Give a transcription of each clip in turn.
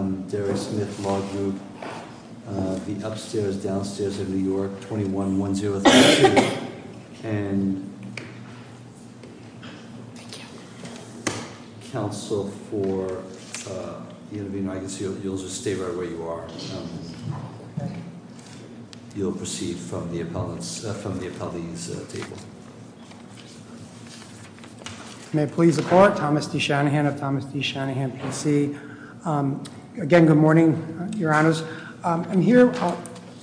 21-1032. And counsel for, you'll just stay right where you are. You'll proceed from the appellees table. May it please the court, Thomas D. Shanahan of Thomas D. Shanahan PC. Again, good morning, your honors. I'm here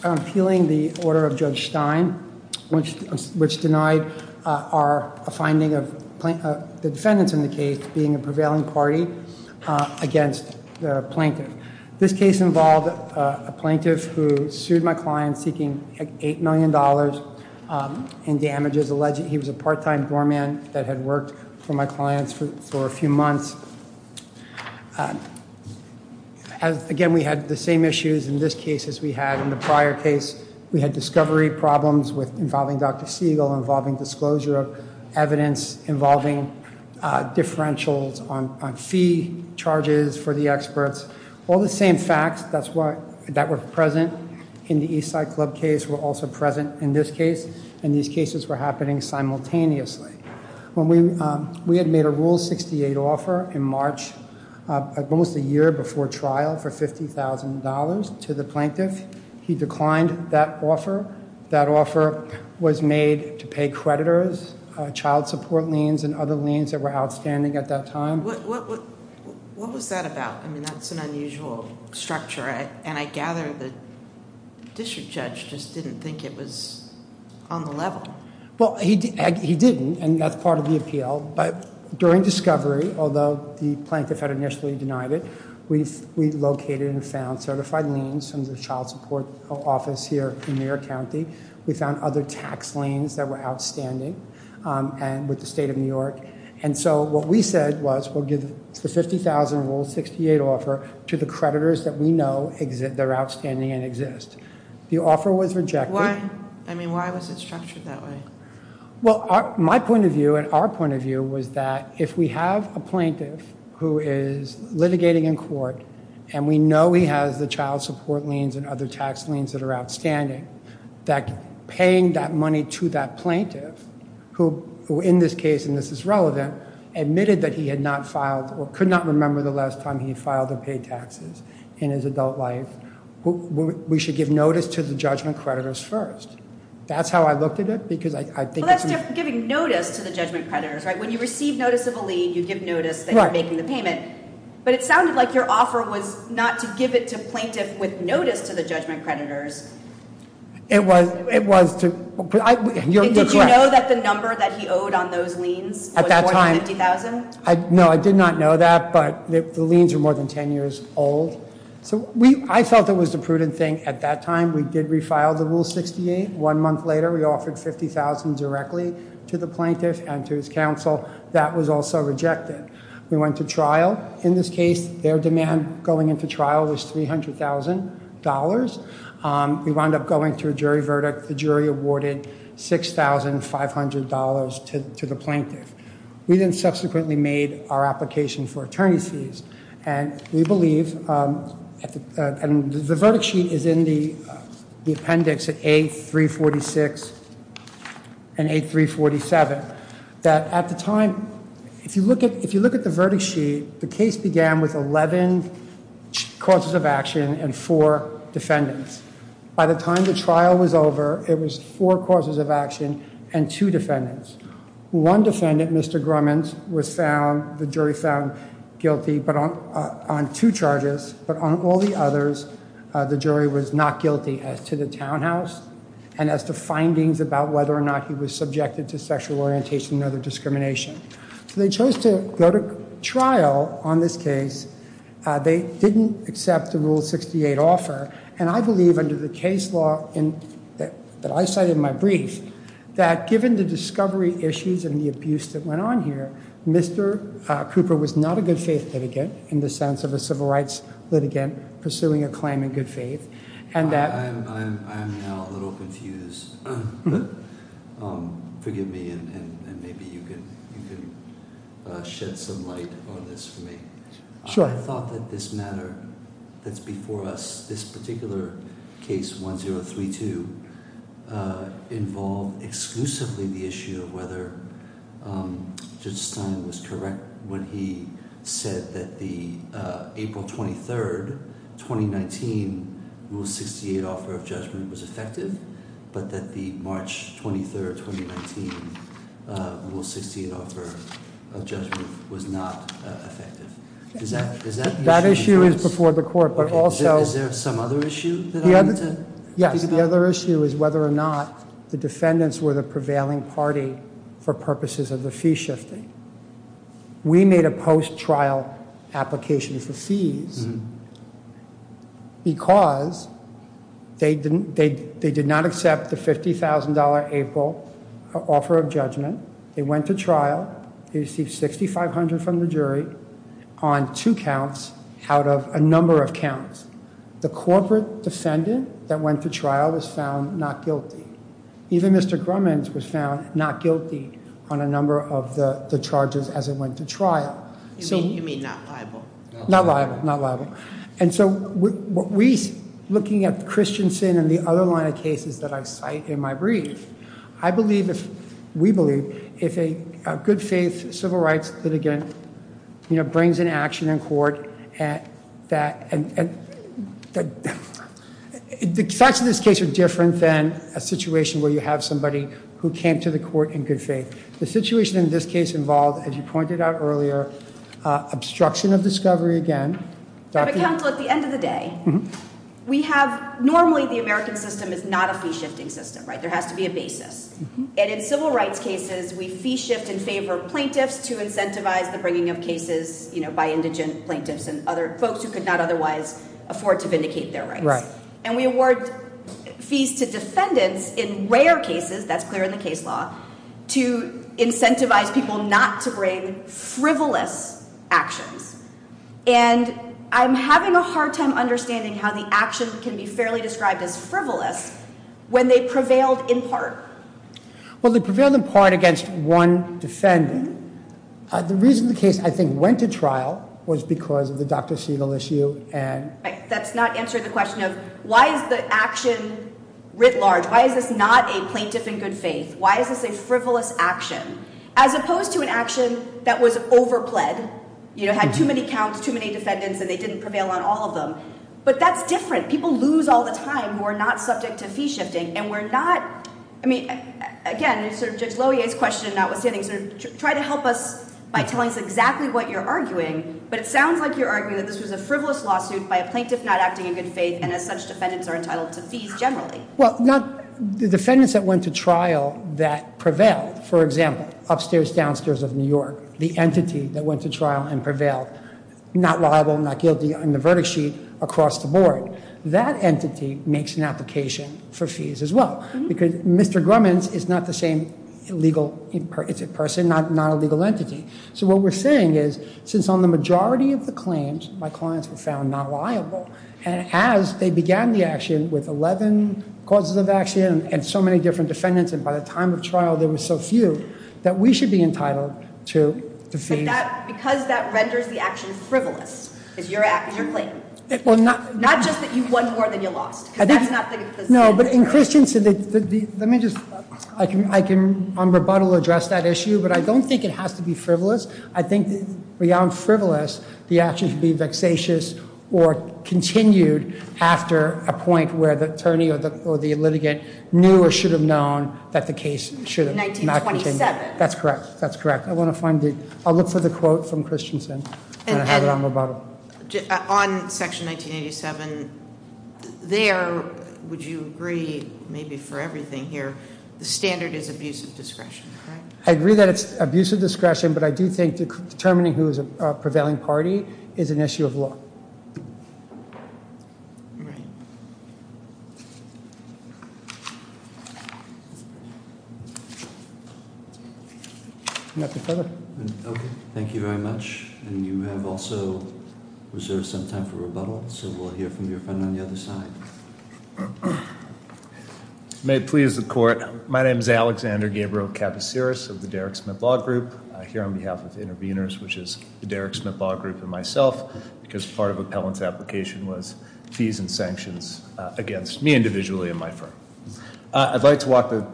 appealing the order of Judge Stein, which denied our finding of the defendants in the case being a prevailing party against the plaintiff. This case involved a plaintiff who sued my client seeking $8 million in damages, alleged he was a part-time doorman that had worked for my clients for a few months. Again, we had the same issues in this case as we had in the prior case. We had discovery problems involving Dr. Siegel, involving disclosure of evidence, involving differentials on fee charges for the experts. All the same facts that were present in the Eastside Club case were also present in this case, and these cases were happening simultaneously. We had made a Rule 68 offer in March, almost a year before trial, for $50,000 to the plaintiff. He declined that offer. That offer was made to pay creditors, child support liens and other liens that were outstanding at that time. What was that about? I mean, that's an unusual structure, and I gather the district judge just didn't think it was on the level. Well, he didn't, and that's part of the appeal, but during discovery, although the plaintiff had initially denied it, we located and found certified liens from the child support office here in New York County. We found other tax liens that were outstanding with the state of New York, and so what we said was we'll give the $50,000 Rule 68 offer to the creditors that we know that are outstanding and exist. The offer was rejected. Why? I mean, why was it structured that way? Well, my point of view and our point of view was that if we have a plaintiff who is litigating in court and we know he has the child support liens and other tax liens that are outstanding, that paying that money to that plaintiff, who in this case, and this is relevant, admitted that he had not filed or could not remember the last time he filed or paid taxes in his adult life, we should give notice to the judgment creditors first. That's how I looked at it, because I think... Well, that's giving notice to the judgment creditors, right? When you receive notice of a lien, you give notice that you're making the payment, but it sounded like your offer was not to give it to plaintiff with notice to the judgment creditors. It was to... You're correct. Did you know that the number that he owed on those liens was more than $50,000? No, I did not know that, but the liens were more than 10 years old. So I felt it was a prudent thing at that time. We did refile the Rule 68. One month later, we offered $50,000 directly to the plaintiff and to his counsel. That was also rejected. We went to trial. In this case, their demand going into trial was $300,000. We wound up going to a jury verdict. The jury awarded $6,500 to the plaintiff. We then subsequently made our application for attorney's fees, and we believe... And the verdict sheet is in the appendix at A346 and A347, that at the time... If you look at the verdict sheet, the case began with 11 causes of action and four defendants. By the time the trial was over, it was four causes of action and two defendants. One defendant, Mr. Grumman, was found... The jury found guilty on two charges, but on all the others, the jury was not guilty as to the townhouse and as to findings about whether or not he was subjected to sexual orientation or other discrimination. So they chose to go to trial on this case. They didn't accept the Rule 68 offer, and I believe under the case law that I cite in my brief that given the discovery issues and the abuse that went on here, Mr. Cooper was not a good faith litigant in the sense of a civil rights litigant pursuing a claim in good faith, and that... I'm now a little confused. Forgive me, and maybe you can shed some light on this for me. Sure. I thought that this matter that's before us, this particular case, 1032, involved exclusively the issue of whether Judge Stein was correct when he said that the April 23, 2019, Rule 68 offer of judgment was effective, but that the March 23, 2019, Rule 68 offer of judgment was not effective. That issue is before the court, but also... Is there some other issue that I need to think about? Yes, the other issue is whether or not the defendants were the prevailing party for purposes of the fee shifting. We made a post-trial application for fees because they did not accept the $50,000 April offer of judgment. They went to trial. They received $6,500 from the jury on two counts out of a number of counts. The corporate defendant that went to trial was found not guilty. Even Mr. Grumman was found not guilty on a number of the charges as it went to trial. You mean not liable? Not liable, not liable. And so, looking at the Christian sin and the other line of cases that I cite in my brief, I believe, we believe, if a good faith civil rights litigant brings an action in court, the facts of this case are different than a situation where you have somebody who came to the court in good faith. The situation in this case involved, as you pointed out earlier, obstruction of discovery again. At the end of the day, normally the American system is not a fee shifting system, right? There has to be a basis. And in civil rights cases, we fee shift in favor of plaintiffs to incentivize the bringing of cases by indigent plaintiffs and other folks who could not otherwise afford to vindicate their rights. Right. And we award fees to defendants in rare cases, that's clear in the case law, to incentivize people not to bring frivolous actions. And I'm having a hard time understanding how the action can be fairly described as frivolous when they prevailed in part. Well, they prevailed in part against one defendant. The reason the case, I think, went to trial was because of the Dr. Segal issue and- That's not answering the question of why is the action writ large? Why is this not a plaintiff in good faith? Why is this a frivolous action? As opposed to an action that was over pled. You know, had too many counts, too many defendants, and they didn't prevail on all of them. But that's different. People lose all the time who are not subject to fee shifting. And we're not, I mean, again, sort of Judge Lohier's question, notwithstanding, sort of try to help us by telling us exactly what you're arguing, but it sounds like you're arguing that this was a frivolous lawsuit by a plaintiff not acting in good faith and as such defendants are entitled to fees generally. Well, the defendants that went to trial that prevailed, for example, upstairs, downstairs of New York, the entity that went to trial and prevailed, not liable, not guilty on the verdict sheet across the board, that entity makes an application for fees as well. Because Mr. Grumman's is not the same legal person, not a legal entity. So what we're saying is, since on the majority of the claims, my clients were found not liable, and as they began the action with 11 causes of action and so many different defendants, and by the time of trial there were so few, that we should be entitled to fees. But that, because that renders the action frivolous, is your claim. Not just that you won more than you lost. No, but in Christensen, let me just, I can on rebuttal address that issue, but I don't think it has to be frivolous. I think beyond frivolous, the action can be vexatious or continued after a point where the attorney or the litigant knew or should have known that the case should have not continued. In 1927. That's correct, that's correct. I want to find the, I'll look for the quote from Christensen, and I'll have it on rebuttal. On section 1987, there, would you agree, maybe for everything here, the standard is abuse of discretion, correct? I agree that it's abuse of discretion, but I do think determining who is a prevailing party is an issue of law. Right. Nothing further. Thank you very much. And you have also reserved some time for rebuttal, so we'll hear from your friend on the other side. May it please the court. My name is Alexander Gabriel Capasiris of the Derrick Smith Law Group. I'm here on behalf of the intervenors, which is the Derrick Smith Law Group and myself, because part of Appellant's application was fees and sanctions against me individually and my firm. I'd like to walk the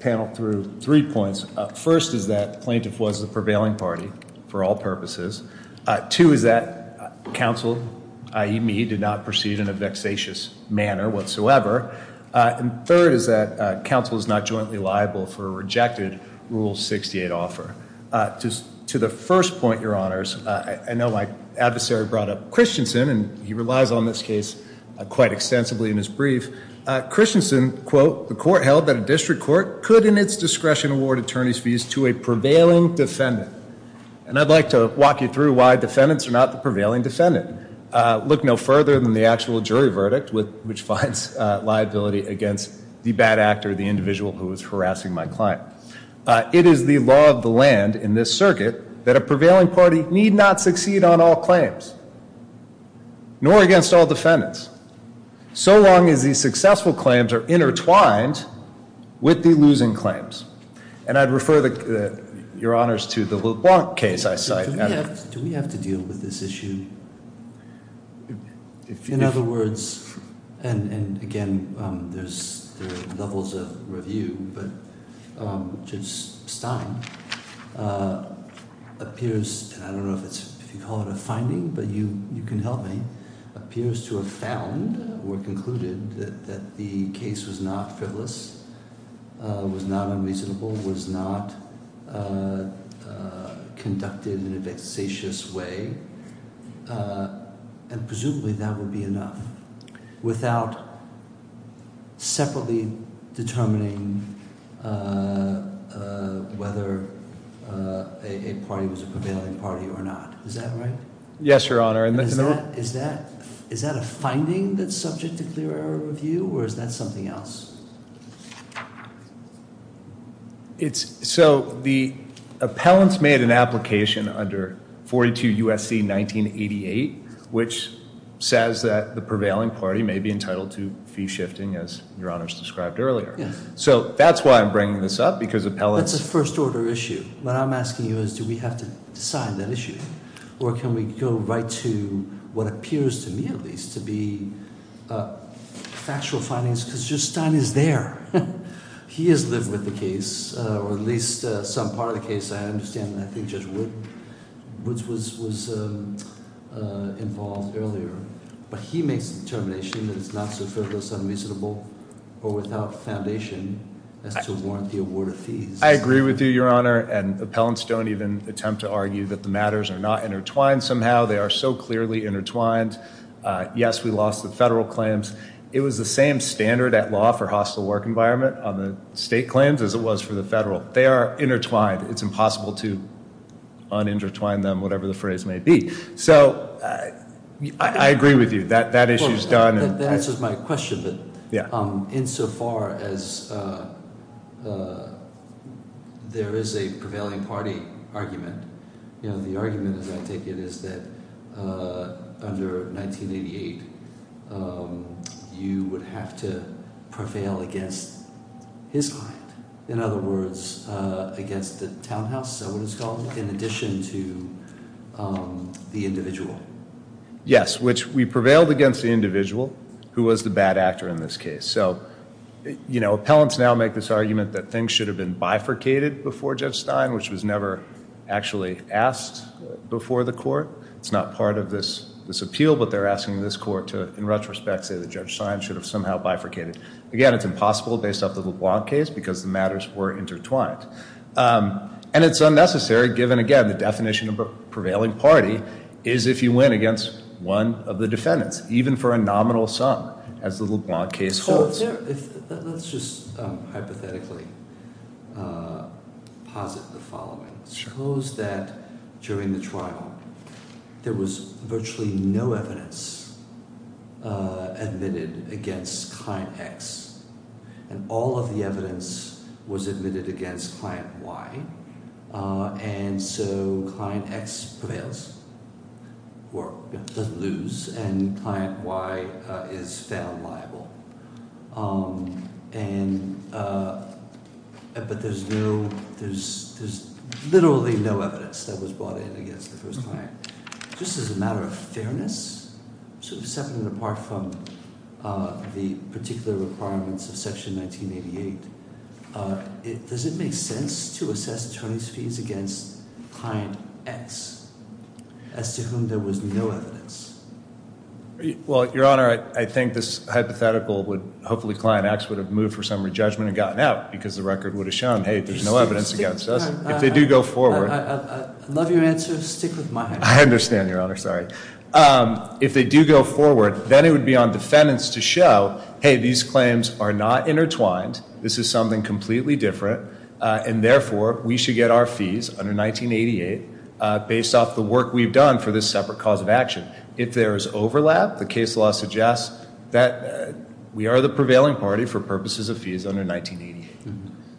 panel through three points. First is that the plaintiff was the prevailing party for all purposes. Two is that counsel, i.e. me, did not proceed in a vexatious manner whatsoever. And third is that counsel is not jointly liable for a rejected Rule 68 offer. To the first point, your honors, I know my adversary brought up Christensen, and he relies on this case quite extensively in his brief. Christensen, quote, the court held that a district court could in its discretion award attorney's fees to a prevailing defendant. And I'd like to walk you through why defendants are not the prevailing defendant. Look no further than the actual jury verdict, which finds liability against the bad actor, the individual who is harassing my client. It is the law of the land in this circuit that a prevailing party need not succeed on all claims, nor against all defendants, so long as these successful claims are intertwined with the losing claims. And I'd refer your honors to the LeBlanc case I cite. Do we have to deal with this issue? In other words, and again, there's levels of review, but Judge Stein appears, and I don't know if you call it a finding, but you can help me, appears to have found or concluded that the case was not frivolous, was not unreasonable, was not conducted in a vexatious way, and presumably that would be enough. Without separately determining whether a party was a prevailing party or not. Is that right? Yes, your honor. Is that a finding that's subject to clear error review, or is that something else? So the appellants made an application under 42 U.S.C. 1988, which says that the prevailing party may be entitled to fee shifting, as your honors described earlier. So that's why I'm bringing this up, because appellants- That's a first order issue. What I'm asking you is do we have to decide that issue, or can we go right to what appears to me at least to be factual findings, because Judge Stein is there. He has lived with the case, or at least some part of the case, I understand. I think Judge Woods was involved earlier, but he makes the determination that it's not so frivolous, unreasonable, or without foundation as to warrant the award of fees. I agree with you, your honor, and appellants don't even attempt to argue that the matters are not intertwined somehow. They are so clearly intertwined. Yes, we lost the federal claims. It was the same standard at law for hostile work environment on the state claims as it was for the federal. They are intertwined. It's impossible to un-intertwine them, whatever the phrase may be. So I agree with you. That issue is done. That answers my question, but insofar as there is a prevailing party argument, the argument, as I take it, is that under 1988, you would have to prevail against his client, in other words, against the townhouse, is that what it's called, in addition to the individual. Yes, which we prevailed against the individual, who was the bad actor in this case. So appellants now make this argument that things should have been bifurcated before Judge Stein, which was never actually asked before the court. It's not part of this appeal, but they're asking this court to, in retrospect, say that Judge Stein should have somehow bifurcated. Again, it's impossible based off the LeBlanc case because the matters were intertwined. And it's unnecessary given, again, the definition of a prevailing party is if you win against one of the defendants, even for a nominal sum, as the LeBlanc case holds. Let's just hypothetically posit the following. Suppose that during the trial, there was virtually no evidence admitted against Client X, and all of the evidence was admitted against Client Y, and so Client X prevails or doesn't lose, and Client Y is found liable. But there's literally no evidence that was brought in against the first client. Just as a matter of fairness, separate and apart from the particular requirements of Section 1988, does it make sense to assess attorney's fees against Client X, as to whom there was no evidence? Well, Your Honor, I think this hypothetical would hopefully Client X would have moved for summary judgment and gotten out because the record would have shown, hey, there's no evidence against us. If they do go forward. I love your answer. Stick with my answer. I understand, Your Honor. Sorry. If they do go forward, then it would be on defendants to show, hey, these claims are not intertwined. This is something completely different, and therefore, we should get our fees under 1988, based off the work we've done for this separate cause of action. If there is overlap, the case law suggests that we are the prevailing party for purposes of fees under 1988.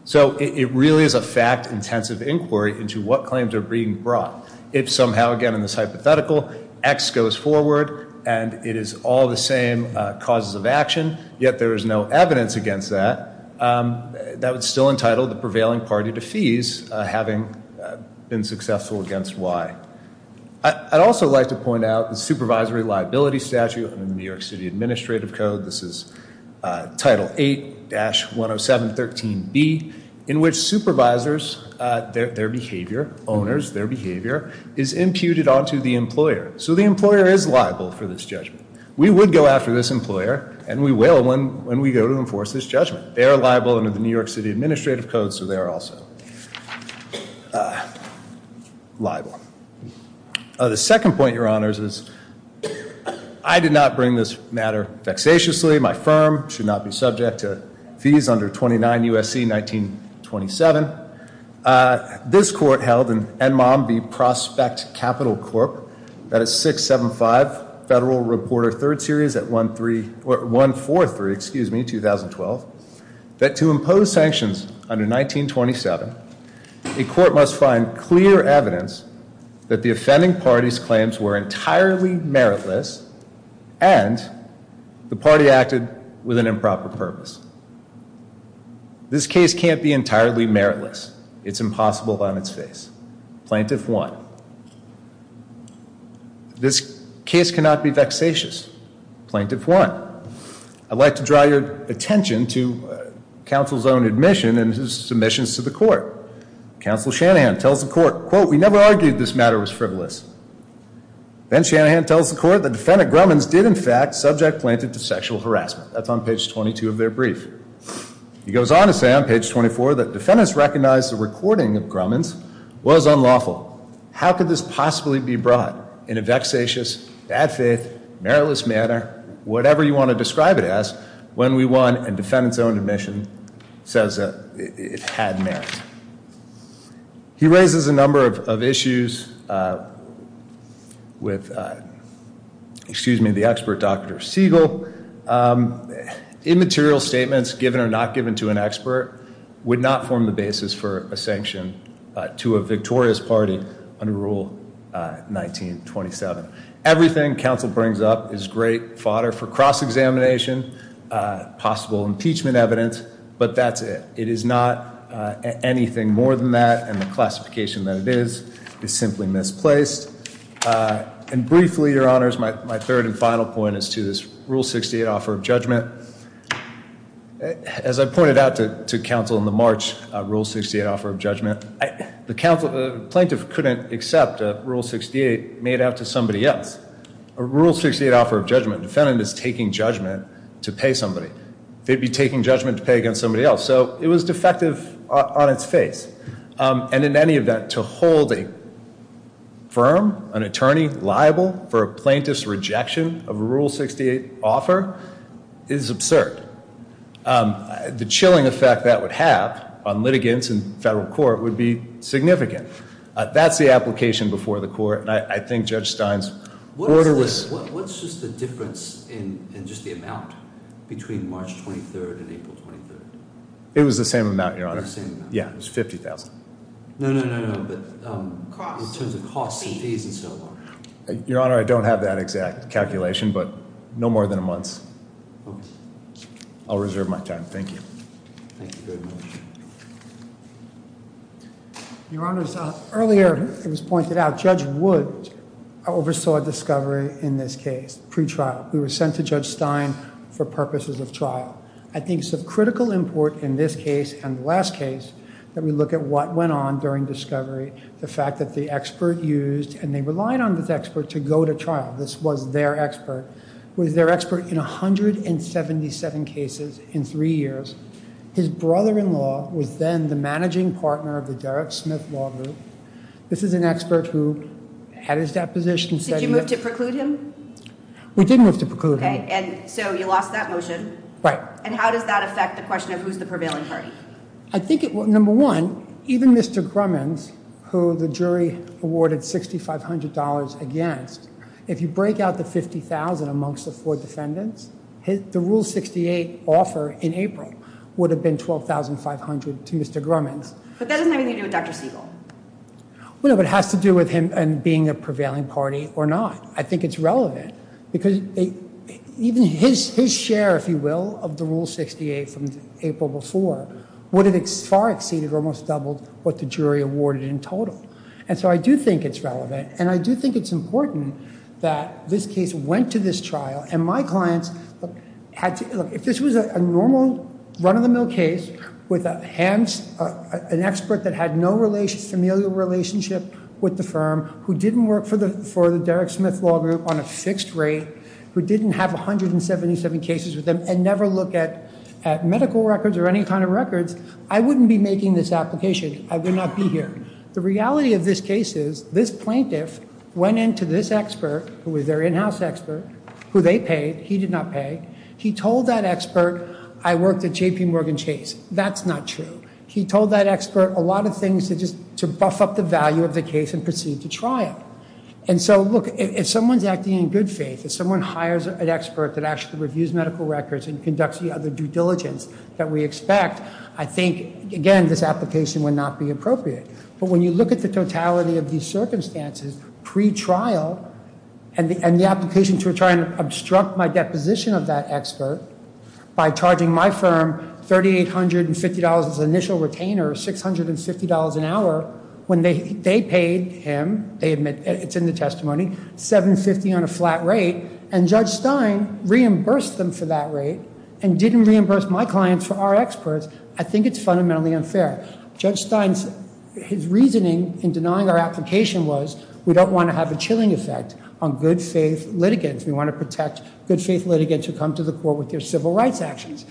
So it really is a fact-intensive inquiry into what claims are being brought. If somehow, again, in this hypothetical, X goes forward and it is all the same causes of action, yet there is no evidence against that, that would still entitle the prevailing party to fees, having been successful against Y. I'd also like to point out the supervisory liability statute in the New York City Administrative Code. This is Title 8-10713B, in which supervisors, their behavior, owners, their behavior, is imputed onto the employer. So the employer is liable for this judgment. We would go after this employer, and we will when we go to enforce this judgment. They are liable under the New York City Administrative Code, so they are also liable. The second point, Your Honors, is I did not bring this matter vexatiously. My firm should not be subject to fees under 29 U.S.C. 1927. This court held in Enmomb v. Prospect Capital Corp., that is 675 Federal Reporter 3rd Series at 143, excuse me, 2012, that to impose sanctions under 1927, a court must find clear evidence that the offending party's claims were entirely meritless, and the party acted with an improper purpose. This case can't be entirely meritless. It's impossible on its face. Plaintiff won. This case cannot be vexatious. Plaintiff won. I'd like to draw your attention to counsel's own admission and his submissions to the court. Counsel Shanahan tells the court, quote, we never argued this matter was frivolous. Then Shanahan tells the court the defendant Grumman's did, in fact, subject Plaintiff to sexual harassment. That's on page 22 of their brief. He goes on to say on page 24 that defendants recognized the recording of Grumman's was unlawful. How could this possibly be brought in a vexatious, bad faith, meritless manner, whatever you want to describe it as, when we won and defendants own admission says it had merit. He raises a number of issues with, excuse me, the expert Dr. Siegel. Immaterial statements given or not given to an expert would not form the basis for a sanction to a victorious party under Rule 1927. Everything counsel brings up is great fodder for cross-examination, possible impeachment evidence. But that's it. It is not anything more than that. And the classification that it is is simply misplaced. And briefly, Your Honors, my third and final point is to this Rule 68 offer of judgment. As I pointed out to counsel in the March Rule 68 offer of judgment, the plaintiff couldn't accept a Rule 68 made out to somebody else. A Rule 68 offer of judgment, defendant is taking judgment to pay somebody. They'd be taking judgment to pay against somebody else. So it was defective on its face. And in any event, to hold a firm, an attorney liable for a plaintiff's rejection of a Rule 68 offer is absurd. The chilling effect that would have on litigants in federal court would be significant. That's the application before the court. And I think Judge Stein's order was- What's just the difference in just the amount between March 23rd and April 23rd? It was the same amount, Your Honor. Yeah, it was $50,000. No, no, no, no, but in terms of costs and fees and so on. Your Honor, I don't have that exact calculation, but no more than a month. Okay. I'll reserve my time. Thank you. Thank you very much. Your Honors, earlier it was pointed out Judge Wood oversaw discovery in this case, pretrial. We were sent to Judge Stein for purposes of trial. I think it's of critical import in this case and the last case that we look at what went on during discovery. The fact that the expert used, and they relied on this expert to go to trial. This was their expert. It was their expert in 177 cases in three years. His brother-in-law was then the managing partner of the Derrick Smith Law Group. This is an expert who had his deposition- Did you move to preclude him? We did move to preclude him. Okay, and so you lost that motion. Right. And how does that affect the question of who's the prevailing party? I think, number one, even Mr. Grumman, who the jury awarded $6,500 against, if you break out the $50,000 amongst the four defendants, the Rule 68 offer in April would have been $12,500 to Mr. Grumman. But that doesn't have anything to do with Dr. Siegel. Well, no, but it has to do with him being a prevailing party or not. I think it's relevant because even his share, if you will, of the Rule 68 from April before would have far exceeded or almost doubled what the jury awarded in total. And so I do think it's relevant, and I do think it's important that this case went to this trial, and my clients had to- Look, if this was a normal run-of-the-mill case with an expert that had no familiar relationship with the firm who didn't work for the Derrick Smith Law Group on a fixed rate, who didn't have 177 cases with them and never looked at medical records or any kind of records, I wouldn't be making this application. I would not be here. The reality of this case is this plaintiff went into this expert, who was their in-house expert, who they paid, he did not pay. He told that expert, I worked at J.P. Morgan Chase. That's not true. He told that expert a lot of things to just buff up the value of the case and proceed to trial. And so, look, if someone's acting in good faith, if someone hires an expert that actually reviews medical records and conducts the other due diligence that we expect, I think, again, this application would not be appropriate. But when you look at the totality of these circumstances pre-trial, and the application to try and obstruct my deposition of that expert by charging my firm $3,850 as initial retainer, $650 an hour, when they paid him, it's in the testimony, $750 on a flat rate, and Judge Stein reimbursed them for that rate and didn't reimburse my clients for our experts, I think it's fundamentally unfair. Judge Stein's reasoning in denying our application was, we don't want to have a chilling effect on good faith litigants. We want to protect good faith litigants who come to the court with their civil rights actions.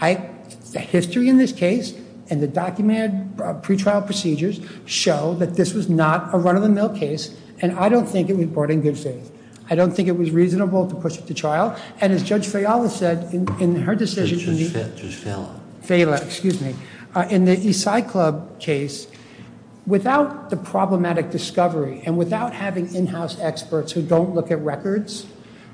The history in this case and the documented pre-trial procedures show that this was not a run-of-the-mill case, and I don't think it was brought in good faith. I don't think it was reasonable to push it to trial. And as Judge Fayala said in her decision... Judge Fayala. Fayala, excuse me. In the Eastside Club case, without the problematic discovery and without having in-house experts who don't look at records,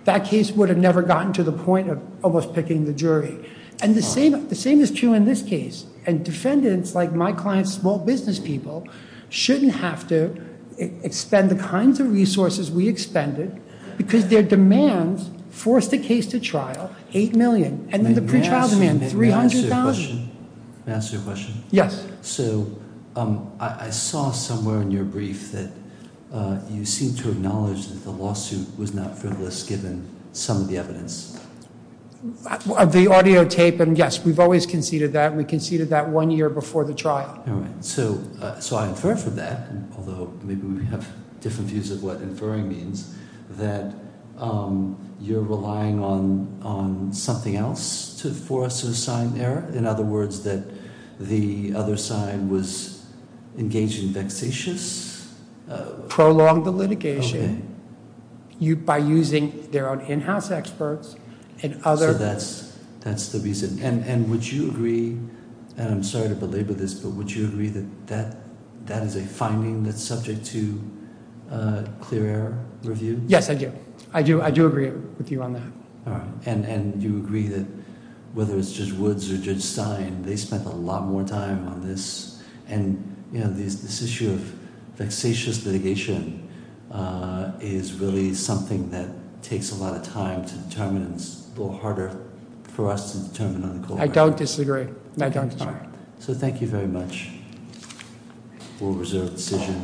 that case would have never gotten to the point of almost picking the jury. And the same is true in this case. And defendants like my clients, small business people, shouldn't have to expend the kinds of resources we expended because their demands forced the case to trial, $8 million, and then the pre-trial demand, $300,000. May I ask you a question? Yes. So I saw somewhere in your brief that you seemed to acknowledge that the lawsuit was not frivolous given some of the evidence. The audio tape, and yes, we've always conceded that. We conceded that one year before the trial. All right. So I infer from that, although maybe we have different views of what inferring means, that you're relying on something else for us to assign error? In other words, that the other side was engaging vexatious- Prolonged the litigation by using their own in-house experts and other- So that's the reason. And would you agree, and I'm sorry to belabor this, but would you agree that that is a finding that's subject to clear air review? Yes, I do. I do agree with you on that. All right. And do you agree that whether it's Judge Woods or Judge Stein, they spent a lot more time on this, and this issue of vexatious litigation is really something that takes a lot of time to determine and it's a little harder for us to determine on the court record. I don't disagree. I don't disagree. So thank you very much. We'll reserve the decision.